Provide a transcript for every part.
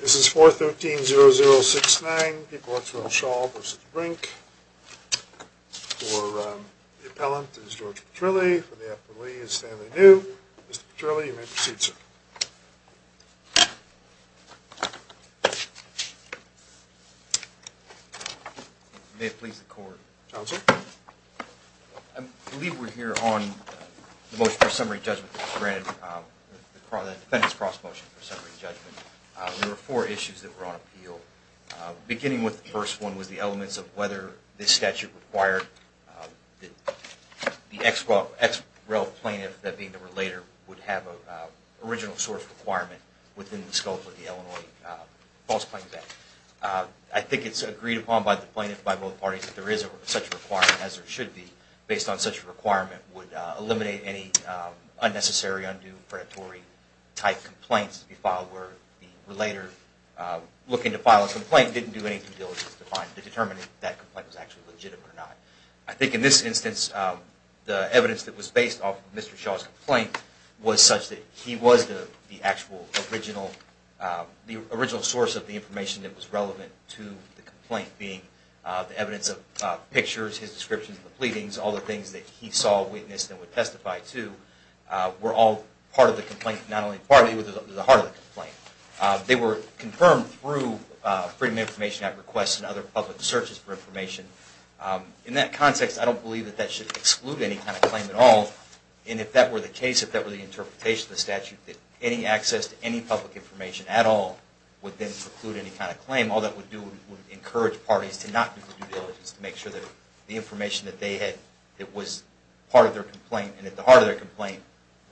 This is 413-0069, People Ought to Know Shaw v. Brink. For the appellant, this is George Petrilli. For the appellee, this is Stanley New. Mr. Petrilli, you may proceed, sir. May it please the court. I believe we're here on the motion for summary judgment that was granted, the defendant's cross-motion for summary judgment. There were four issues that were on appeal. Beginning with the first one was the elements of whether this statute required the ex-rel plaintiff, that being the relator, would have an original source requirement within the scope of the Illinois False Plaintiff Act. I think it's agreed upon by the plaintiff, by both parties, that there is such a requirement as there should be. Based on such a requirement would eliminate any unnecessary, undue, predatory-type complaints to be filed where the relator looking to file a complaint didn't do anything to determine if that complaint was actually legitimate or not. I think in this instance, the evidence that was based off of Mr. Shaw's complaint was such that he was the actual original source of the information that was relevant to the complaint, being the evidence of pictures, his descriptions of the pleadings, all the things that he saw, witnessed, and would testify to were all part of the complaint, not only part of it, but the heart of the complaint. They were confirmed through Freedom of Information Act requests and other public searches for information. In that context, I don't believe that that should exclude any kind of claim at all. And if that were the case, if that were the interpretation of the statute, that any access to any public information at all would then preclude any kind of claim. I think all that would do would encourage parties to not do due diligence to make sure that the information that was part of their complaint and at the heart of their complaint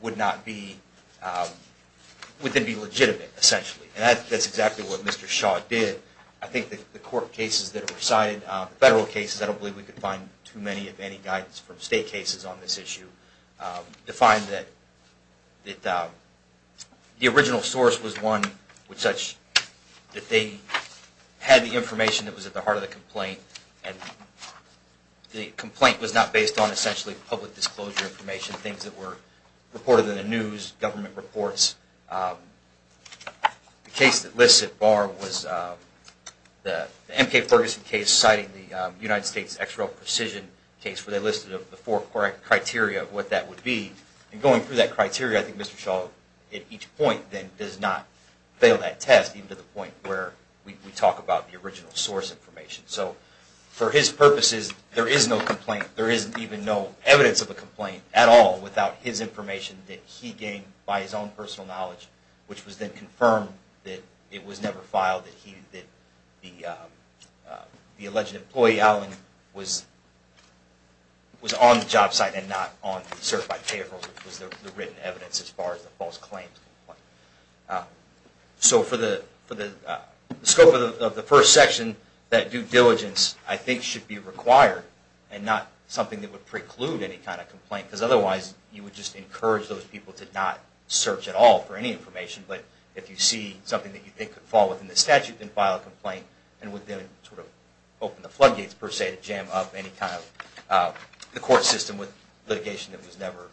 would then be legitimate, essentially. And that's exactly what Mr. Shaw did. I think the court cases that were cited, the federal cases, I don't believe we could find too many of any guidance from state cases on this issue to find that the original source was one such that they had the information that was at the heart of the complaint, and the complaint was not based on essentially public disclosure information, things that were reported in the news, government reports. The case that lists it, Barr, was the M.K. Ferguson case citing the United States XRO Precision case where they listed the four criteria of what that would be. And going through that criteria, I think Mr. Shaw at each point then does not fail that test even to the point where we talk about the original source information. So for his purposes, there is no complaint. There is even no evidence of a complaint at all without his information that he gained by his own personal knowledge, which was then confirmed that it was never filed, that the alleged employee, Allen, was on the job site and not on the certified payroll, which was the written evidence as far as the false claims. So for the scope of the first section, that due diligence I think should be required and not something that would preclude any kind of complaint, because otherwise you would just encourage those people to not search at all for any information, but if you see something that you think could fall within the statute, then file a complaint and would then sort of open the floodgates per se to jam up any kind of the court system with litigation that was never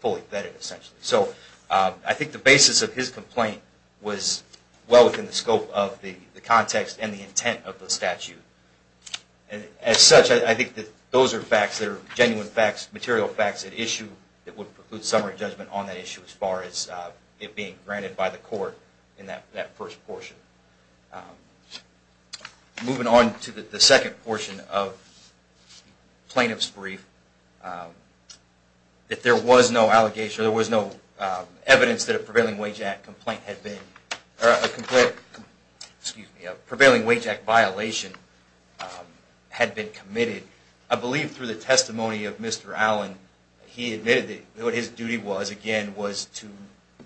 fully vetted essentially. So I think the basis of his complaint was well within the scope of the context and the intent of the statute. As such, I think that those are facts that are genuine facts, material facts at issue that would preclude summary judgment on that issue as far as it being granted by the court in that first portion. Moving on to the second portion of the plaintiff's brief, that there was no evidence that a prevailing wage act violation had been committed. I believe through the testimony of Mr. Allen, he admitted that what his duty was, again, was to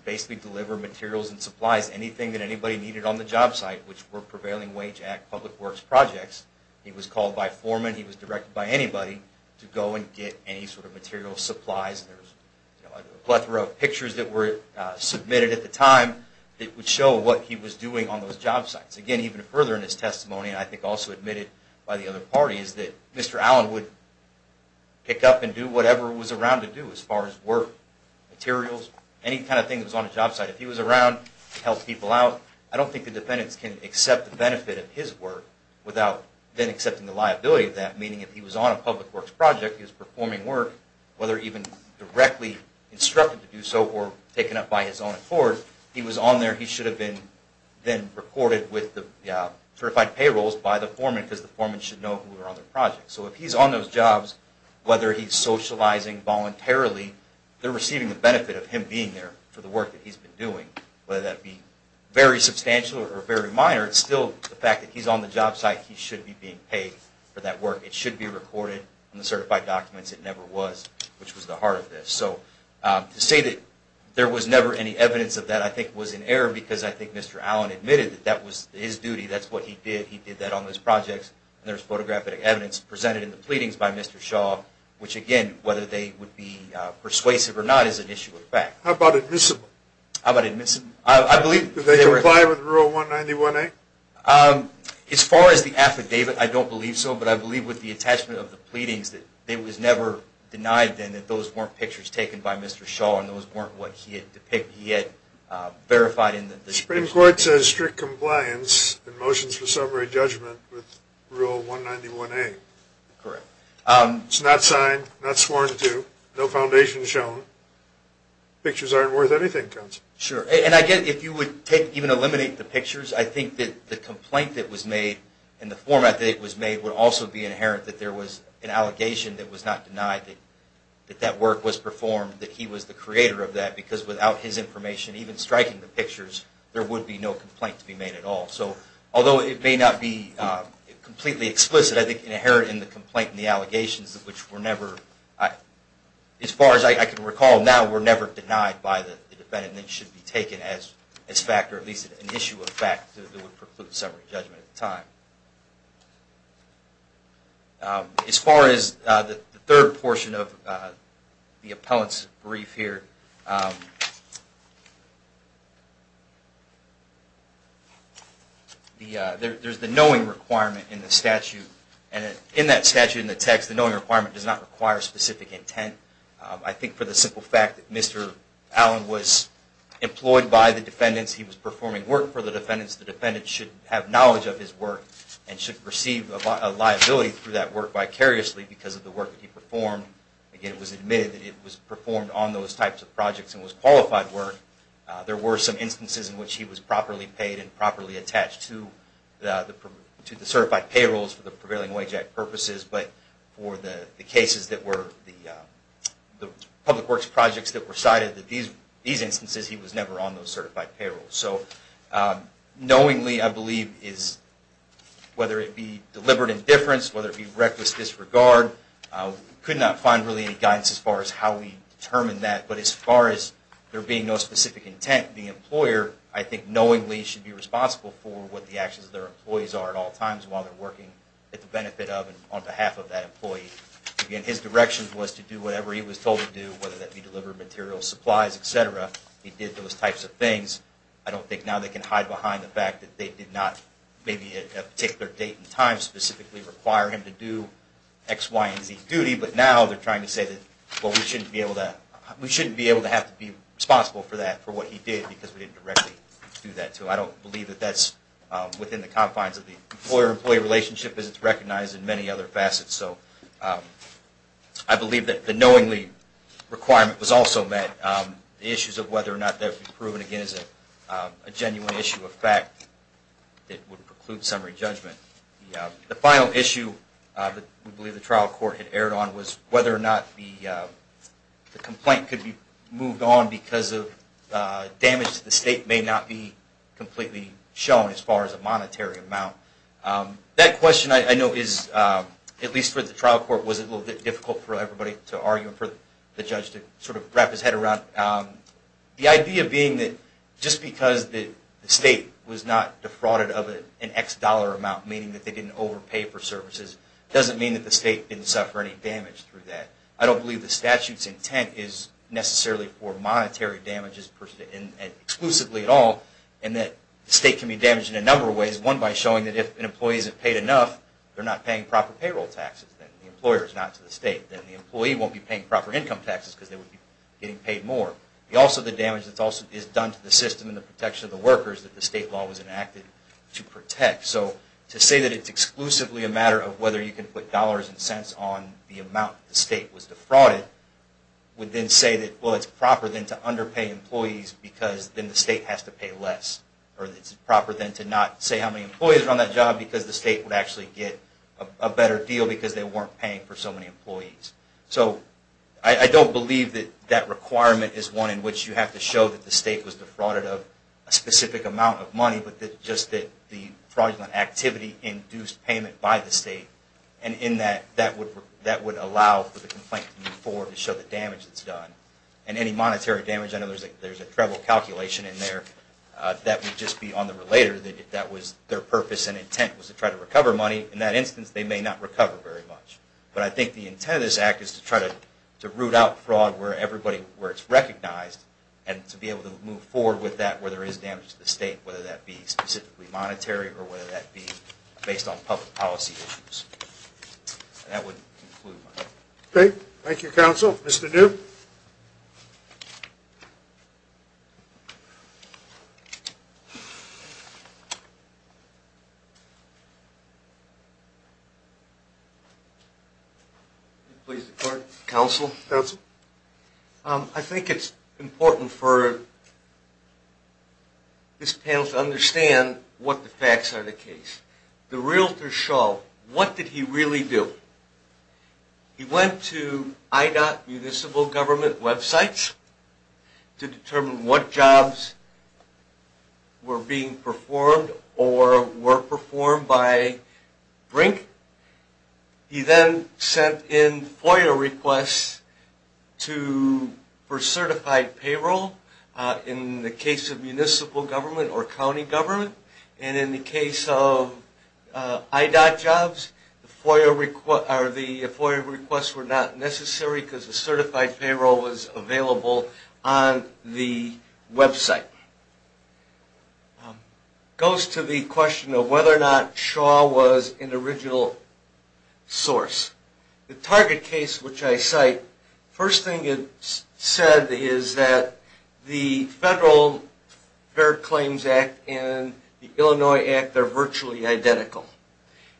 basically deliver materials and supplies, anything that anybody needed on the job site. Which were prevailing wage act public works projects. He was called by foreman, he was directed by anybody to go and get any sort of material supplies. There was a plethora of pictures that were submitted at the time that would show what he was doing on those job sites. Again, even further in his testimony, and I think also admitted by the other parties, that Mr. Allen would pick up and do whatever he was around to do as far as work, materials, any kind of thing that was on the job site. If he was around to help people out, I don't think the defendants can accept the benefit of his work without then accepting the liability of that. Meaning if he was on a public works project, he was performing work, whether even directly instructed to do so or taken up by his own accord, he was on there, he should have been then reported with the certified payrolls by the foreman because the foreman should know who were on the project. So if he's on those jobs, whether he's socializing voluntarily, they're receiving the benefit of him being there for the work that he's been doing. Whether that be very substantial or very minor, it's still the fact that he's on the job site, he should be being paid for that work. It should be recorded in the certified documents. It never was, which was the heart of this. So to say that there was never any evidence of that I think was in error because I think Mr. Allen admitted that that was his duty, that's what he did, he did that on those projects, and there's photographic evidence presented in the pleadings by Mr. Shaw, which again, whether they would be persuasive or not is an issue of fact. How about admissible? How about admissible? I believe... Do they comply with Rule 191A? As far as the affidavit, I don't believe so, but I believe with the attachment of the pleadings that it was never denied then that those weren't pictures taken by Mr. Shaw and those weren't what he had verified in the... The Supreme Court says strict compliance in motions for summary judgment with Rule 191A. Correct. It's not signed, not sworn to, no foundation shown. Pictures aren't worth anything, counsel. Sure. And again, if you would take, even eliminate the pictures, I think that the complaint that was made and the format that it was made would also be inherent that there was an allegation that was not denied that that work was performed, that he was the creator of that because without his information even striking the pictures, there would be no complaint to be made at all. So although it may not be completely explicit, I think inherent in the complaint and the allegations which were never... As far as I can recall now, were never denied by the defendant and should be taken as fact or at least an issue of fact that would preclude summary judgment at the time. As far as the third portion of the appellant's brief here, there's the knowing requirement in the statute and in that statute in the text, the knowing requirement does not require specific intent. I think for the simple fact that Mr. Allen was employed by the defendants, he was performing work for the defendants, the defendant should have knowledge of his work and should receive a liability through that work vicariously because of the work that he performed. Again, it was admitted that it was performed on those types of projects and was qualified work. There were some instances in which he was properly paid and properly attached to the certified payrolls for the prevailing wage act purposes, but for the cases that were the public works projects that were cited in these instances, he was never on those certified payrolls. So knowingly I believe is whether it be deliberate indifference, whether it be reckless disregard, could not find really any guidance as far as how we determine that, but as far as there being no specific intent, the employer I think knowingly should be responsible for what the actions of their employees are at all times while they're working at the benefit of and on behalf of that employee. Again, his direction was to do whatever he was told to do, whether that be deliver material supplies, etc. He did those types of things. I don't think now they can hide behind the fact that they did not maybe at a particular date and time specifically require him to do X, Y, and Z duty, but now they're trying to say that, well, we shouldn't be able to have to be responsible for that, for what he did because we didn't directly do that to him. I don't believe that that's within the confines of the employer-employee relationship as it's recognized in many other facets. So I believe that the knowingly requirement was also met. The issues of whether or not that would be proven again is a genuine issue of fact that would preclude summary judgment. The final issue that we believe the trial court had erred on was whether or not the complaint could be moved on because of damage to the state may not be completely shown as far as a monetary amount. That question I know is, at least for the trial court, was a little bit difficult for everybody to argue and for the judge to sort of wrap his head around. The idea being that just because the state was not defrauded of an X dollar amount, meaning that they didn't overpay for services, doesn't mean that the state didn't suffer any damage through that. I don't believe the statute's intent is necessarily for monetary damages exclusively at all, and that the state can be damaged in a number of ways, one by showing that if an employee isn't paid enough, they're not paying proper payroll taxes. Then the employer is not to the state. Then the employee won't be paying proper income taxes because they would be getting paid more. Also, the damage that is done to the system and the protection of the workers that the state law was enacted to protect. So to say that it's exclusively a matter of whether you can put dollars and cents on the amount the state was defrauded would then say that, well, it's proper then to underpay employees because then the state has to pay less. Or it's proper then to not say how many employees are on that job because the state would actually get a better deal because they weren't paying for so many employees. So I don't believe that that requirement is one in which you have to show that the state was defrauded of a specific amount of money, but just that the fraudulent activity induced payment by the state, and in that, that would allow for the complaint to move forward to show the damage that's done. And any monetary damage, I know there's a treble calculation in there, that would just be on the relator that their purpose and intent was to try to recover money. In that instance, they may not recover very much. But I think the intent of this act is to try to root out fraud where it's recognized and to be able to move forward with that where there is damage to the state, whether that be specifically monetary or whether that be based on public policy issues. And that would conclude my comment. Okay. Thank you, Counsel. Mr. New? Counsel? I think it's important for this panel to understand what the facts are in the case. The realtor, Shaw, what did he really do? He went to IDOT municipal government websites to determine what jobs were being performed or were performed by BRINC. He then sent in FOIA requests for certified payroll in the case of municipal government or county government. And in the case of IDOT jobs, the FOIA requests were not necessary because the certified payroll was available on the website. Now, that goes to the question of whether or not Shaw was an original source. The target case which I cite, first thing it said is that the Federal Fair Claims Act and the Illinois Act are virtually identical.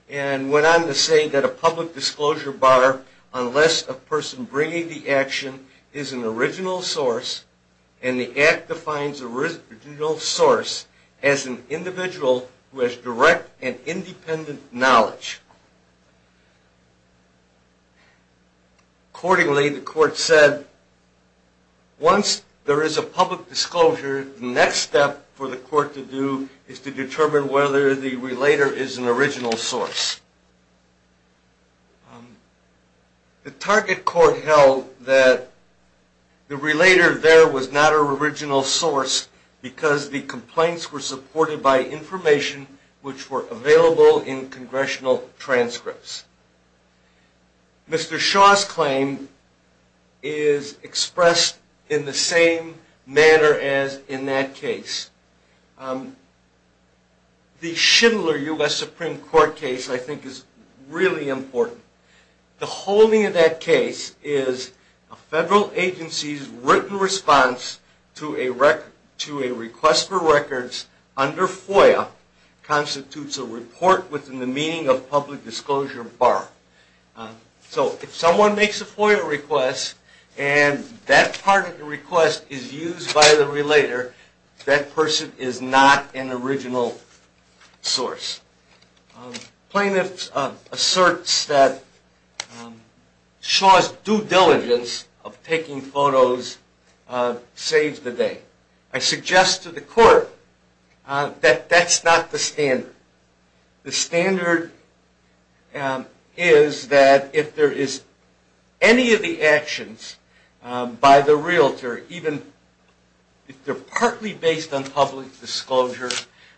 And went on to say that a public disclosure bar, unless a person bringing the action is an original source, and the Act defines original source as an individual who has direct and independent knowledge. Accordingly, the court said, once there is a public disclosure, the next step for the court to do is to determine whether the relator is an original source. The target court held that the relator there was not an original source because the complaints were supported by information which were available in congressional transcripts. Mr. Shaw's claim is expressed in the same manner as in that case. The Schindler U.S. Supreme Court case I think is really important. The holding of that case is a federal agency's written response to a request for records under FOIA constitutes a report within the meaning of public disclosure bar. So if someone makes a FOIA request and that part of the request is used by the relator, that person is not an original source. Plaintiff asserts that Shaw's due diligence of taking photos saved the day. I suggest to the court that that's not the standard. The standard is that if there is any of the actions by the realtor, even if they're partly based on public disclosure,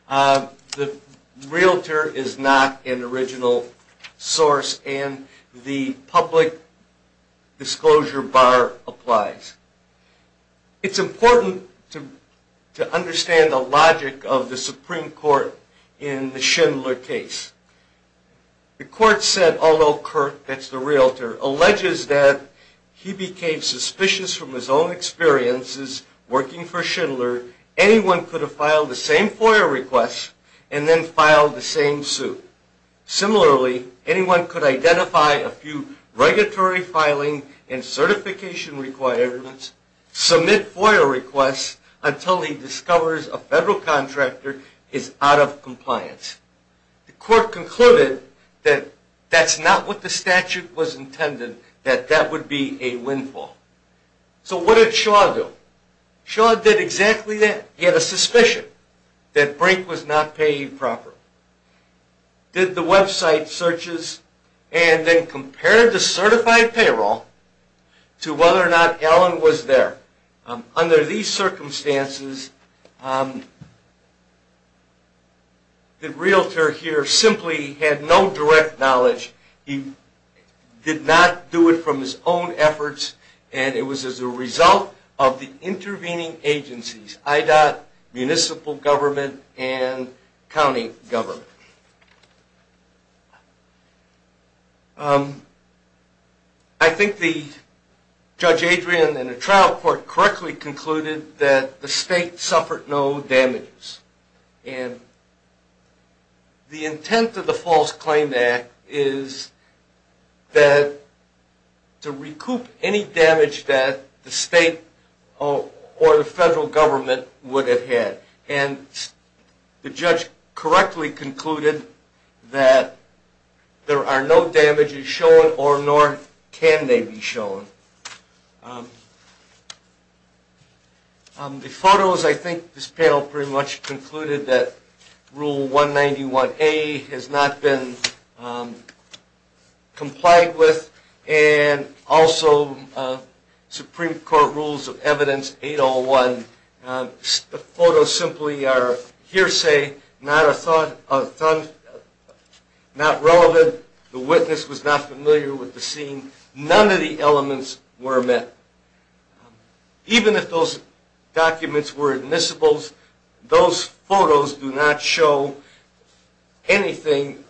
the realtor is not an original source and the public disclosure bar applies. It's important to understand the logic of the Supreme Court in the Schindler case. The court said although Kirk, that's the realtor, alleges that he became suspicious from his own experiences working for Schindler, anyone could have filed the same FOIA request and then filed the same suit. Similarly, anyone could identify a few regulatory filing and certification requirements, submit FOIA requests until he discovers a federal contractor is out of compliance. The court concluded that that's not what the statute was intended, that that would be a windfall. So what did Shaw do? Shaw did exactly that. He had a suspicion that Brink was not paying proper. Did the website searches and then compared the certified payroll to whether or not Allen was there. Under these circumstances, the realtor here simply had no direct knowledge. He did not do it from his own efforts and it was as a result of the intervening agencies, IDOT, municipal government, and county government. I think the Judge Adrian and the trial court correctly concluded that the state suffered no damage. And the intent of the False Claim Act is to recoup any damage that the state or the federal government would have had. And the judge correctly concluded that there are no damages shown or nor can they be shown. The photos, I think this panel pretty much concluded that Rule 191A has not been complied with and also Supreme Court Rules of Evidence 801. The photos simply are hearsay, not relevant. The witness was not familiar with the scene. None of the elements were met. Even if those documents were admissible, those photos do not show anything.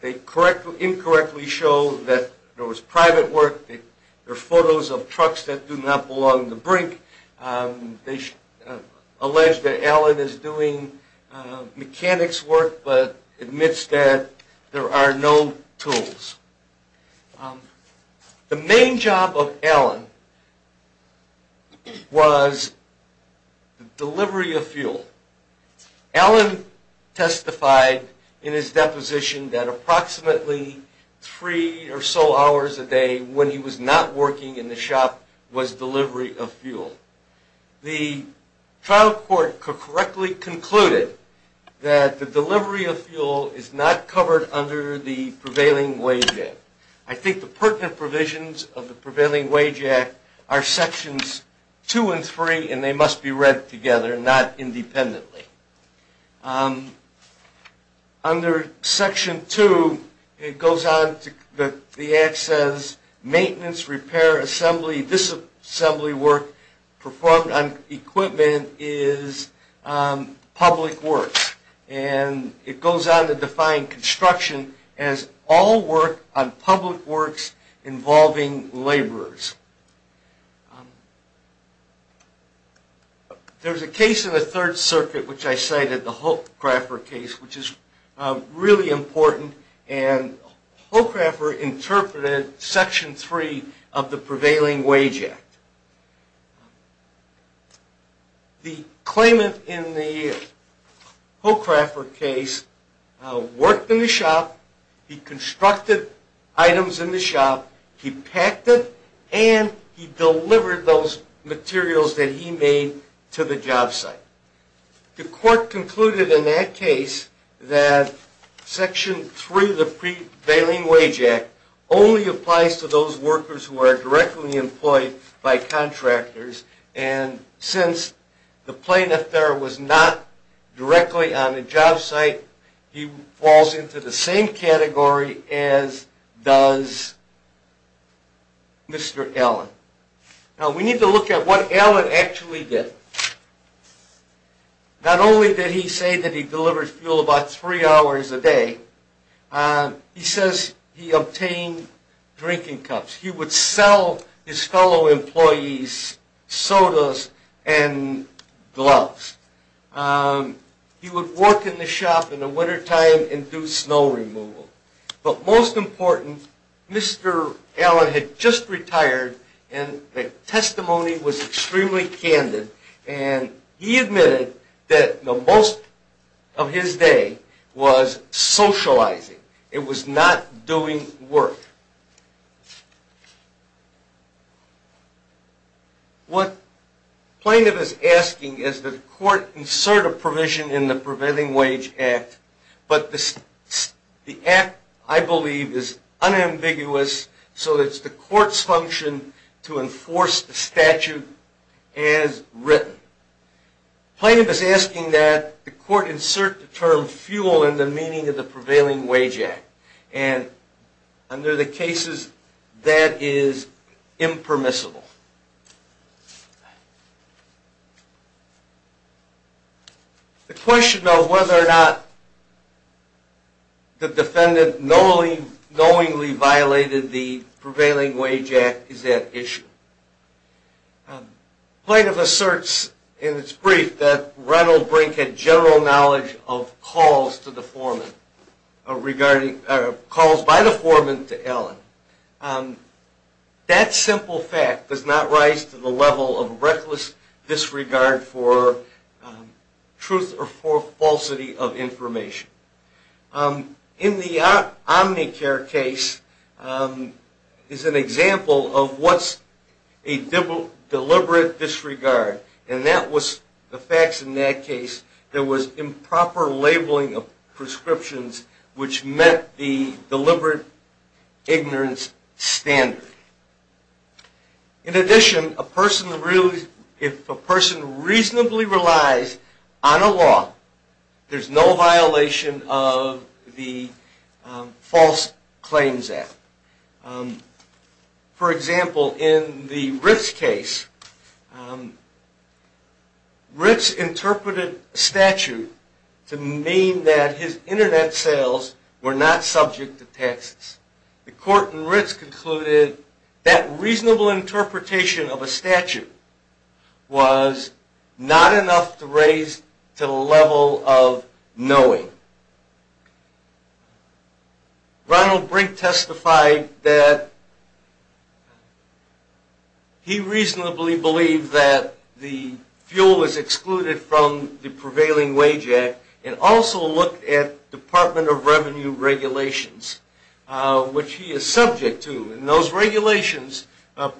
They incorrectly show that there was private work. There are photos of trucks that do not belong to Brink. They allege that Allen is doing mechanics work but admits that there are no tools. The main job of Allen was delivery of fuel. Allen testified in his deposition that approximately three or so hours a day when he was not working in the shop was delivery of fuel. The trial court correctly concluded that the delivery of fuel is not covered under the Prevailing Wage Act. I think the pertinent provisions of the Prevailing Wage Act are Sections 2 and 3 and they must be read together, not independently. Under Section 2 it goes on that the Act says maintenance, repair, assembly, disassembly work performed on equipment is public works and it goes on to define construction as all work on public works involving laborers. There is a case in the Third Circuit which I cited, the Hochraffer case, which is really important. Hochraffer interpreted Section 3 of the Prevailing Wage Act. The claimant in the Hochraffer case worked in the shop, he constructed items in the shop, he packed it, and he delivered those materials that he made to the job site. The court concluded in that case that Section 3 of the Prevailing Wage Act only applies to those workers who are directly employed by contractors and since the plaintiff there was not directly on the job site, he falls into the same category as does Mr. Allen. Now we need to look at what Allen actually did. Not only did he say that he delivered fuel about three hours a day, he says he obtained drinking cups. He would sell his fellow employees sodas and gloves. He would work in the shop in the wintertime and do snow removal. But most important, Mr. Allen had just retired and the testimony was extremely candid and he admitted that the most of his day was socializing. It was not doing work. What the plaintiff is asking is that the court insert a provision in the Prevailing Wage Act, but the act, I believe, is unambiguous so it's the court's function to enforce the statute as written. Plaintiff is asking that the court insert the term fuel in the meaning of the Prevailing Wage Act and under the cases that is impermissible. The question of whether or not the defendant knowingly violated the Prevailing Wage Act is that issue. Plaintiff asserts in its brief that Reynolds Brink had general knowledge of calls by the foreman to Allen. That simple fact does not rise to the level of reckless disregard for truth or falsity of information. In the Omnicare case is an example of what's a deliberate disregard. And that was the facts in that case. There was improper labeling of prescriptions which met the deliberate ignorance standard. In addition, if a person reasonably relies on a law, there's no violation of the False Claims Act. For example, in the Ritz case, Ritz interpreted a statute to mean that his internet sales were not subject to taxes. The court in Ritz concluded that reasonable interpretation of a statute was not enough to raise to the level of knowing. Reynolds Brink testified that he reasonably believed that the fuel was excluded from the Prevailing Wage Act and also looked at Department of Revenue regulations, which he is subject to. And those regulations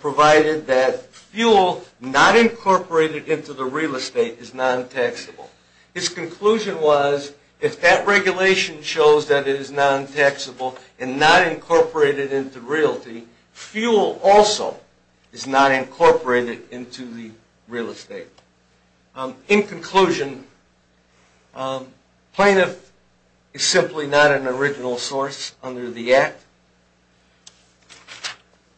provided that fuel not incorporated into the real estate is non-taxable. His conclusion was, if that regulation shows that it is non-taxable and not incorporated into realty, fuel also is not incorporated into the real estate. In conclusion, plaintiff is simply not an original source under the Act.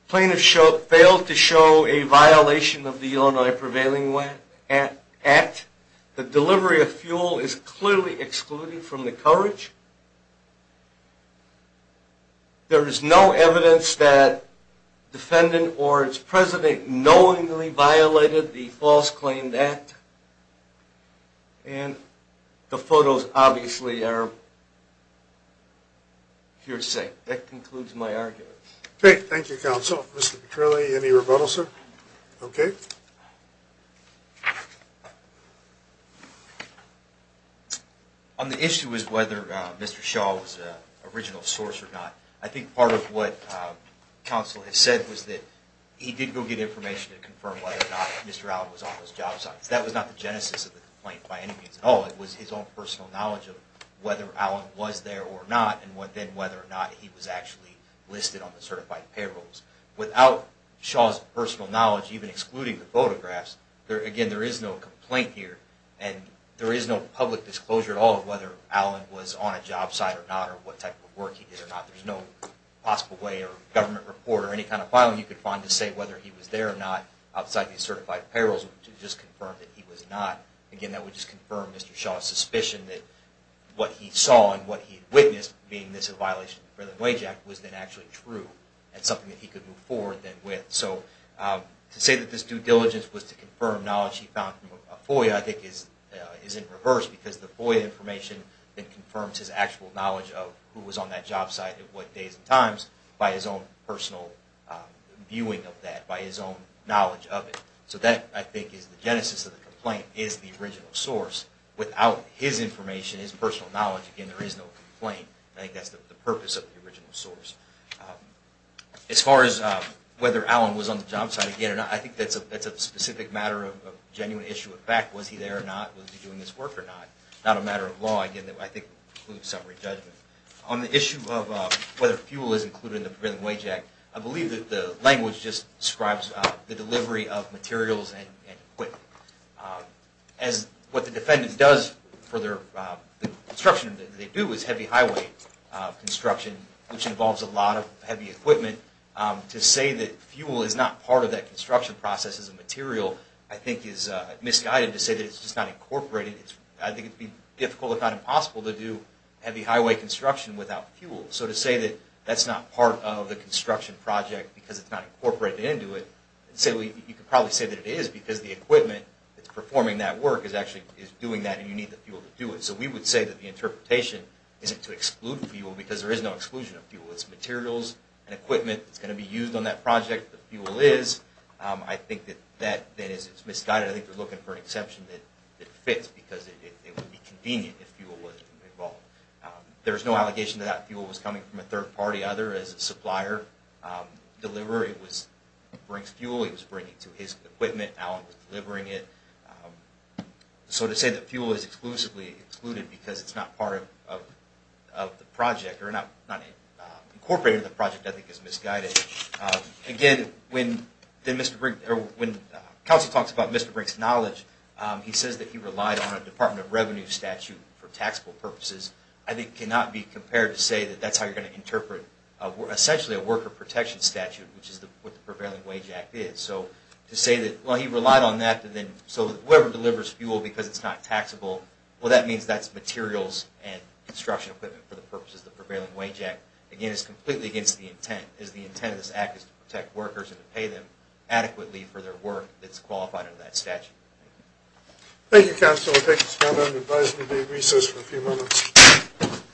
Plaintiff failed to show a violation of the Illinois Prevailing Act. The delivery of fuel is clearly excluded from the coverage. There is no evidence that defendant or its president knowingly violated the False Claims Act. And the photos obviously are purest. That concludes my argument. Great. Thank you, counsel. Mr. McCurley, any rebuttal, sir? Okay. On the issue of whether Mr. Shaw was an original source or not, I think part of what counsel has said was that he did go get information to confirm whether or not Mr. Allen was on those job sites. That was not the genesis of the complaint by any means at all. It was his own personal knowledge of whether Allen was there or not and then whether or not he was actually listed on the certified payrolls. Without Shaw's personal knowledge, even excluding the photographs, again, there is no complaint here and there is no public disclosure at all of whether Allen was on a job site or not or what type of work he did or not. There is no possible way or government report or any kind of filing you could find to say whether he was there or not outside the certified payrolls to just confirm that he was not. Again, that would just confirm Mr. Shaw's suspicion that what he saw and what he witnessed being this a violation of the Prevailing Wage Act was then actually true and something that he could move forward then with. So to say that this due diligence was to confirm knowledge he found from a FOIA I think is in reverse because the FOIA information then confirms his actual knowledge of who was on that job site and what days and times by his own personal viewing of that, by his own knowledge of it. So that, I think, is the genesis of the complaint, is the original source. Without his information, his personal knowledge, again, there is no complaint. I think that's the purpose of the original source. As far as whether Allen was on the job site again, I think that's a specific matter of genuine issue of fact. Was he there or not? Was he doing his work or not? Not a matter of law, again, that I think includes summary judgment. On the issue of whether fuel is included in the Prevailing Wage Act, I believe that the language just describes the delivery of materials and equipment. As what the defendant does for their construction that they do is heavy highway construction, which involves a lot of heavy equipment. To say that fuel is not part of that construction process as a material I think is misguided to say that it's just not incorporated. I think it would be difficult, if not impossible, to do heavy highway construction without fuel. So to say that that's not part of the construction project because it's not incorporated into it, you could probably say that it is because the equipment that's performing that work is actually doing that and you need the fuel to do it. So we would say that the interpretation is to exclude fuel because there is no exclusion of fuel. It's materials and equipment that's going to be used on that project. The fuel is. I think that that is misguided. I think they're looking for an exception that fits because it would be convenient if fuel wasn't involved. There's no allegation that fuel was coming from a third-party other as a supplier. Delivery brings fuel. It was bringing to his equipment. Allen was delivering it. So to say that fuel is exclusively excluded because it's not part of the project or not incorporated in the project I think is misguided. Again, when Kelsey talks about Mr. Brink's knowledge, he says that he relied on a Department of Revenue statute for taxable purposes. I think it cannot be compared to say that that's how you're going to interpret essentially a worker protection statute, which is what the Prevailing Wage Act is. So to say that, well, he relied on that. So whoever delivers fuel because it's not taxable, well, that means that's materials and construction equipment for the purposes of the Prevailing Wage Act. Again, it's completely against the intent. The intent of this act is to protect workers and to pay them adequately for their work that's qualified under that statute. Thank you, counsel. We'll take this comment and advisory day recess for a few moments.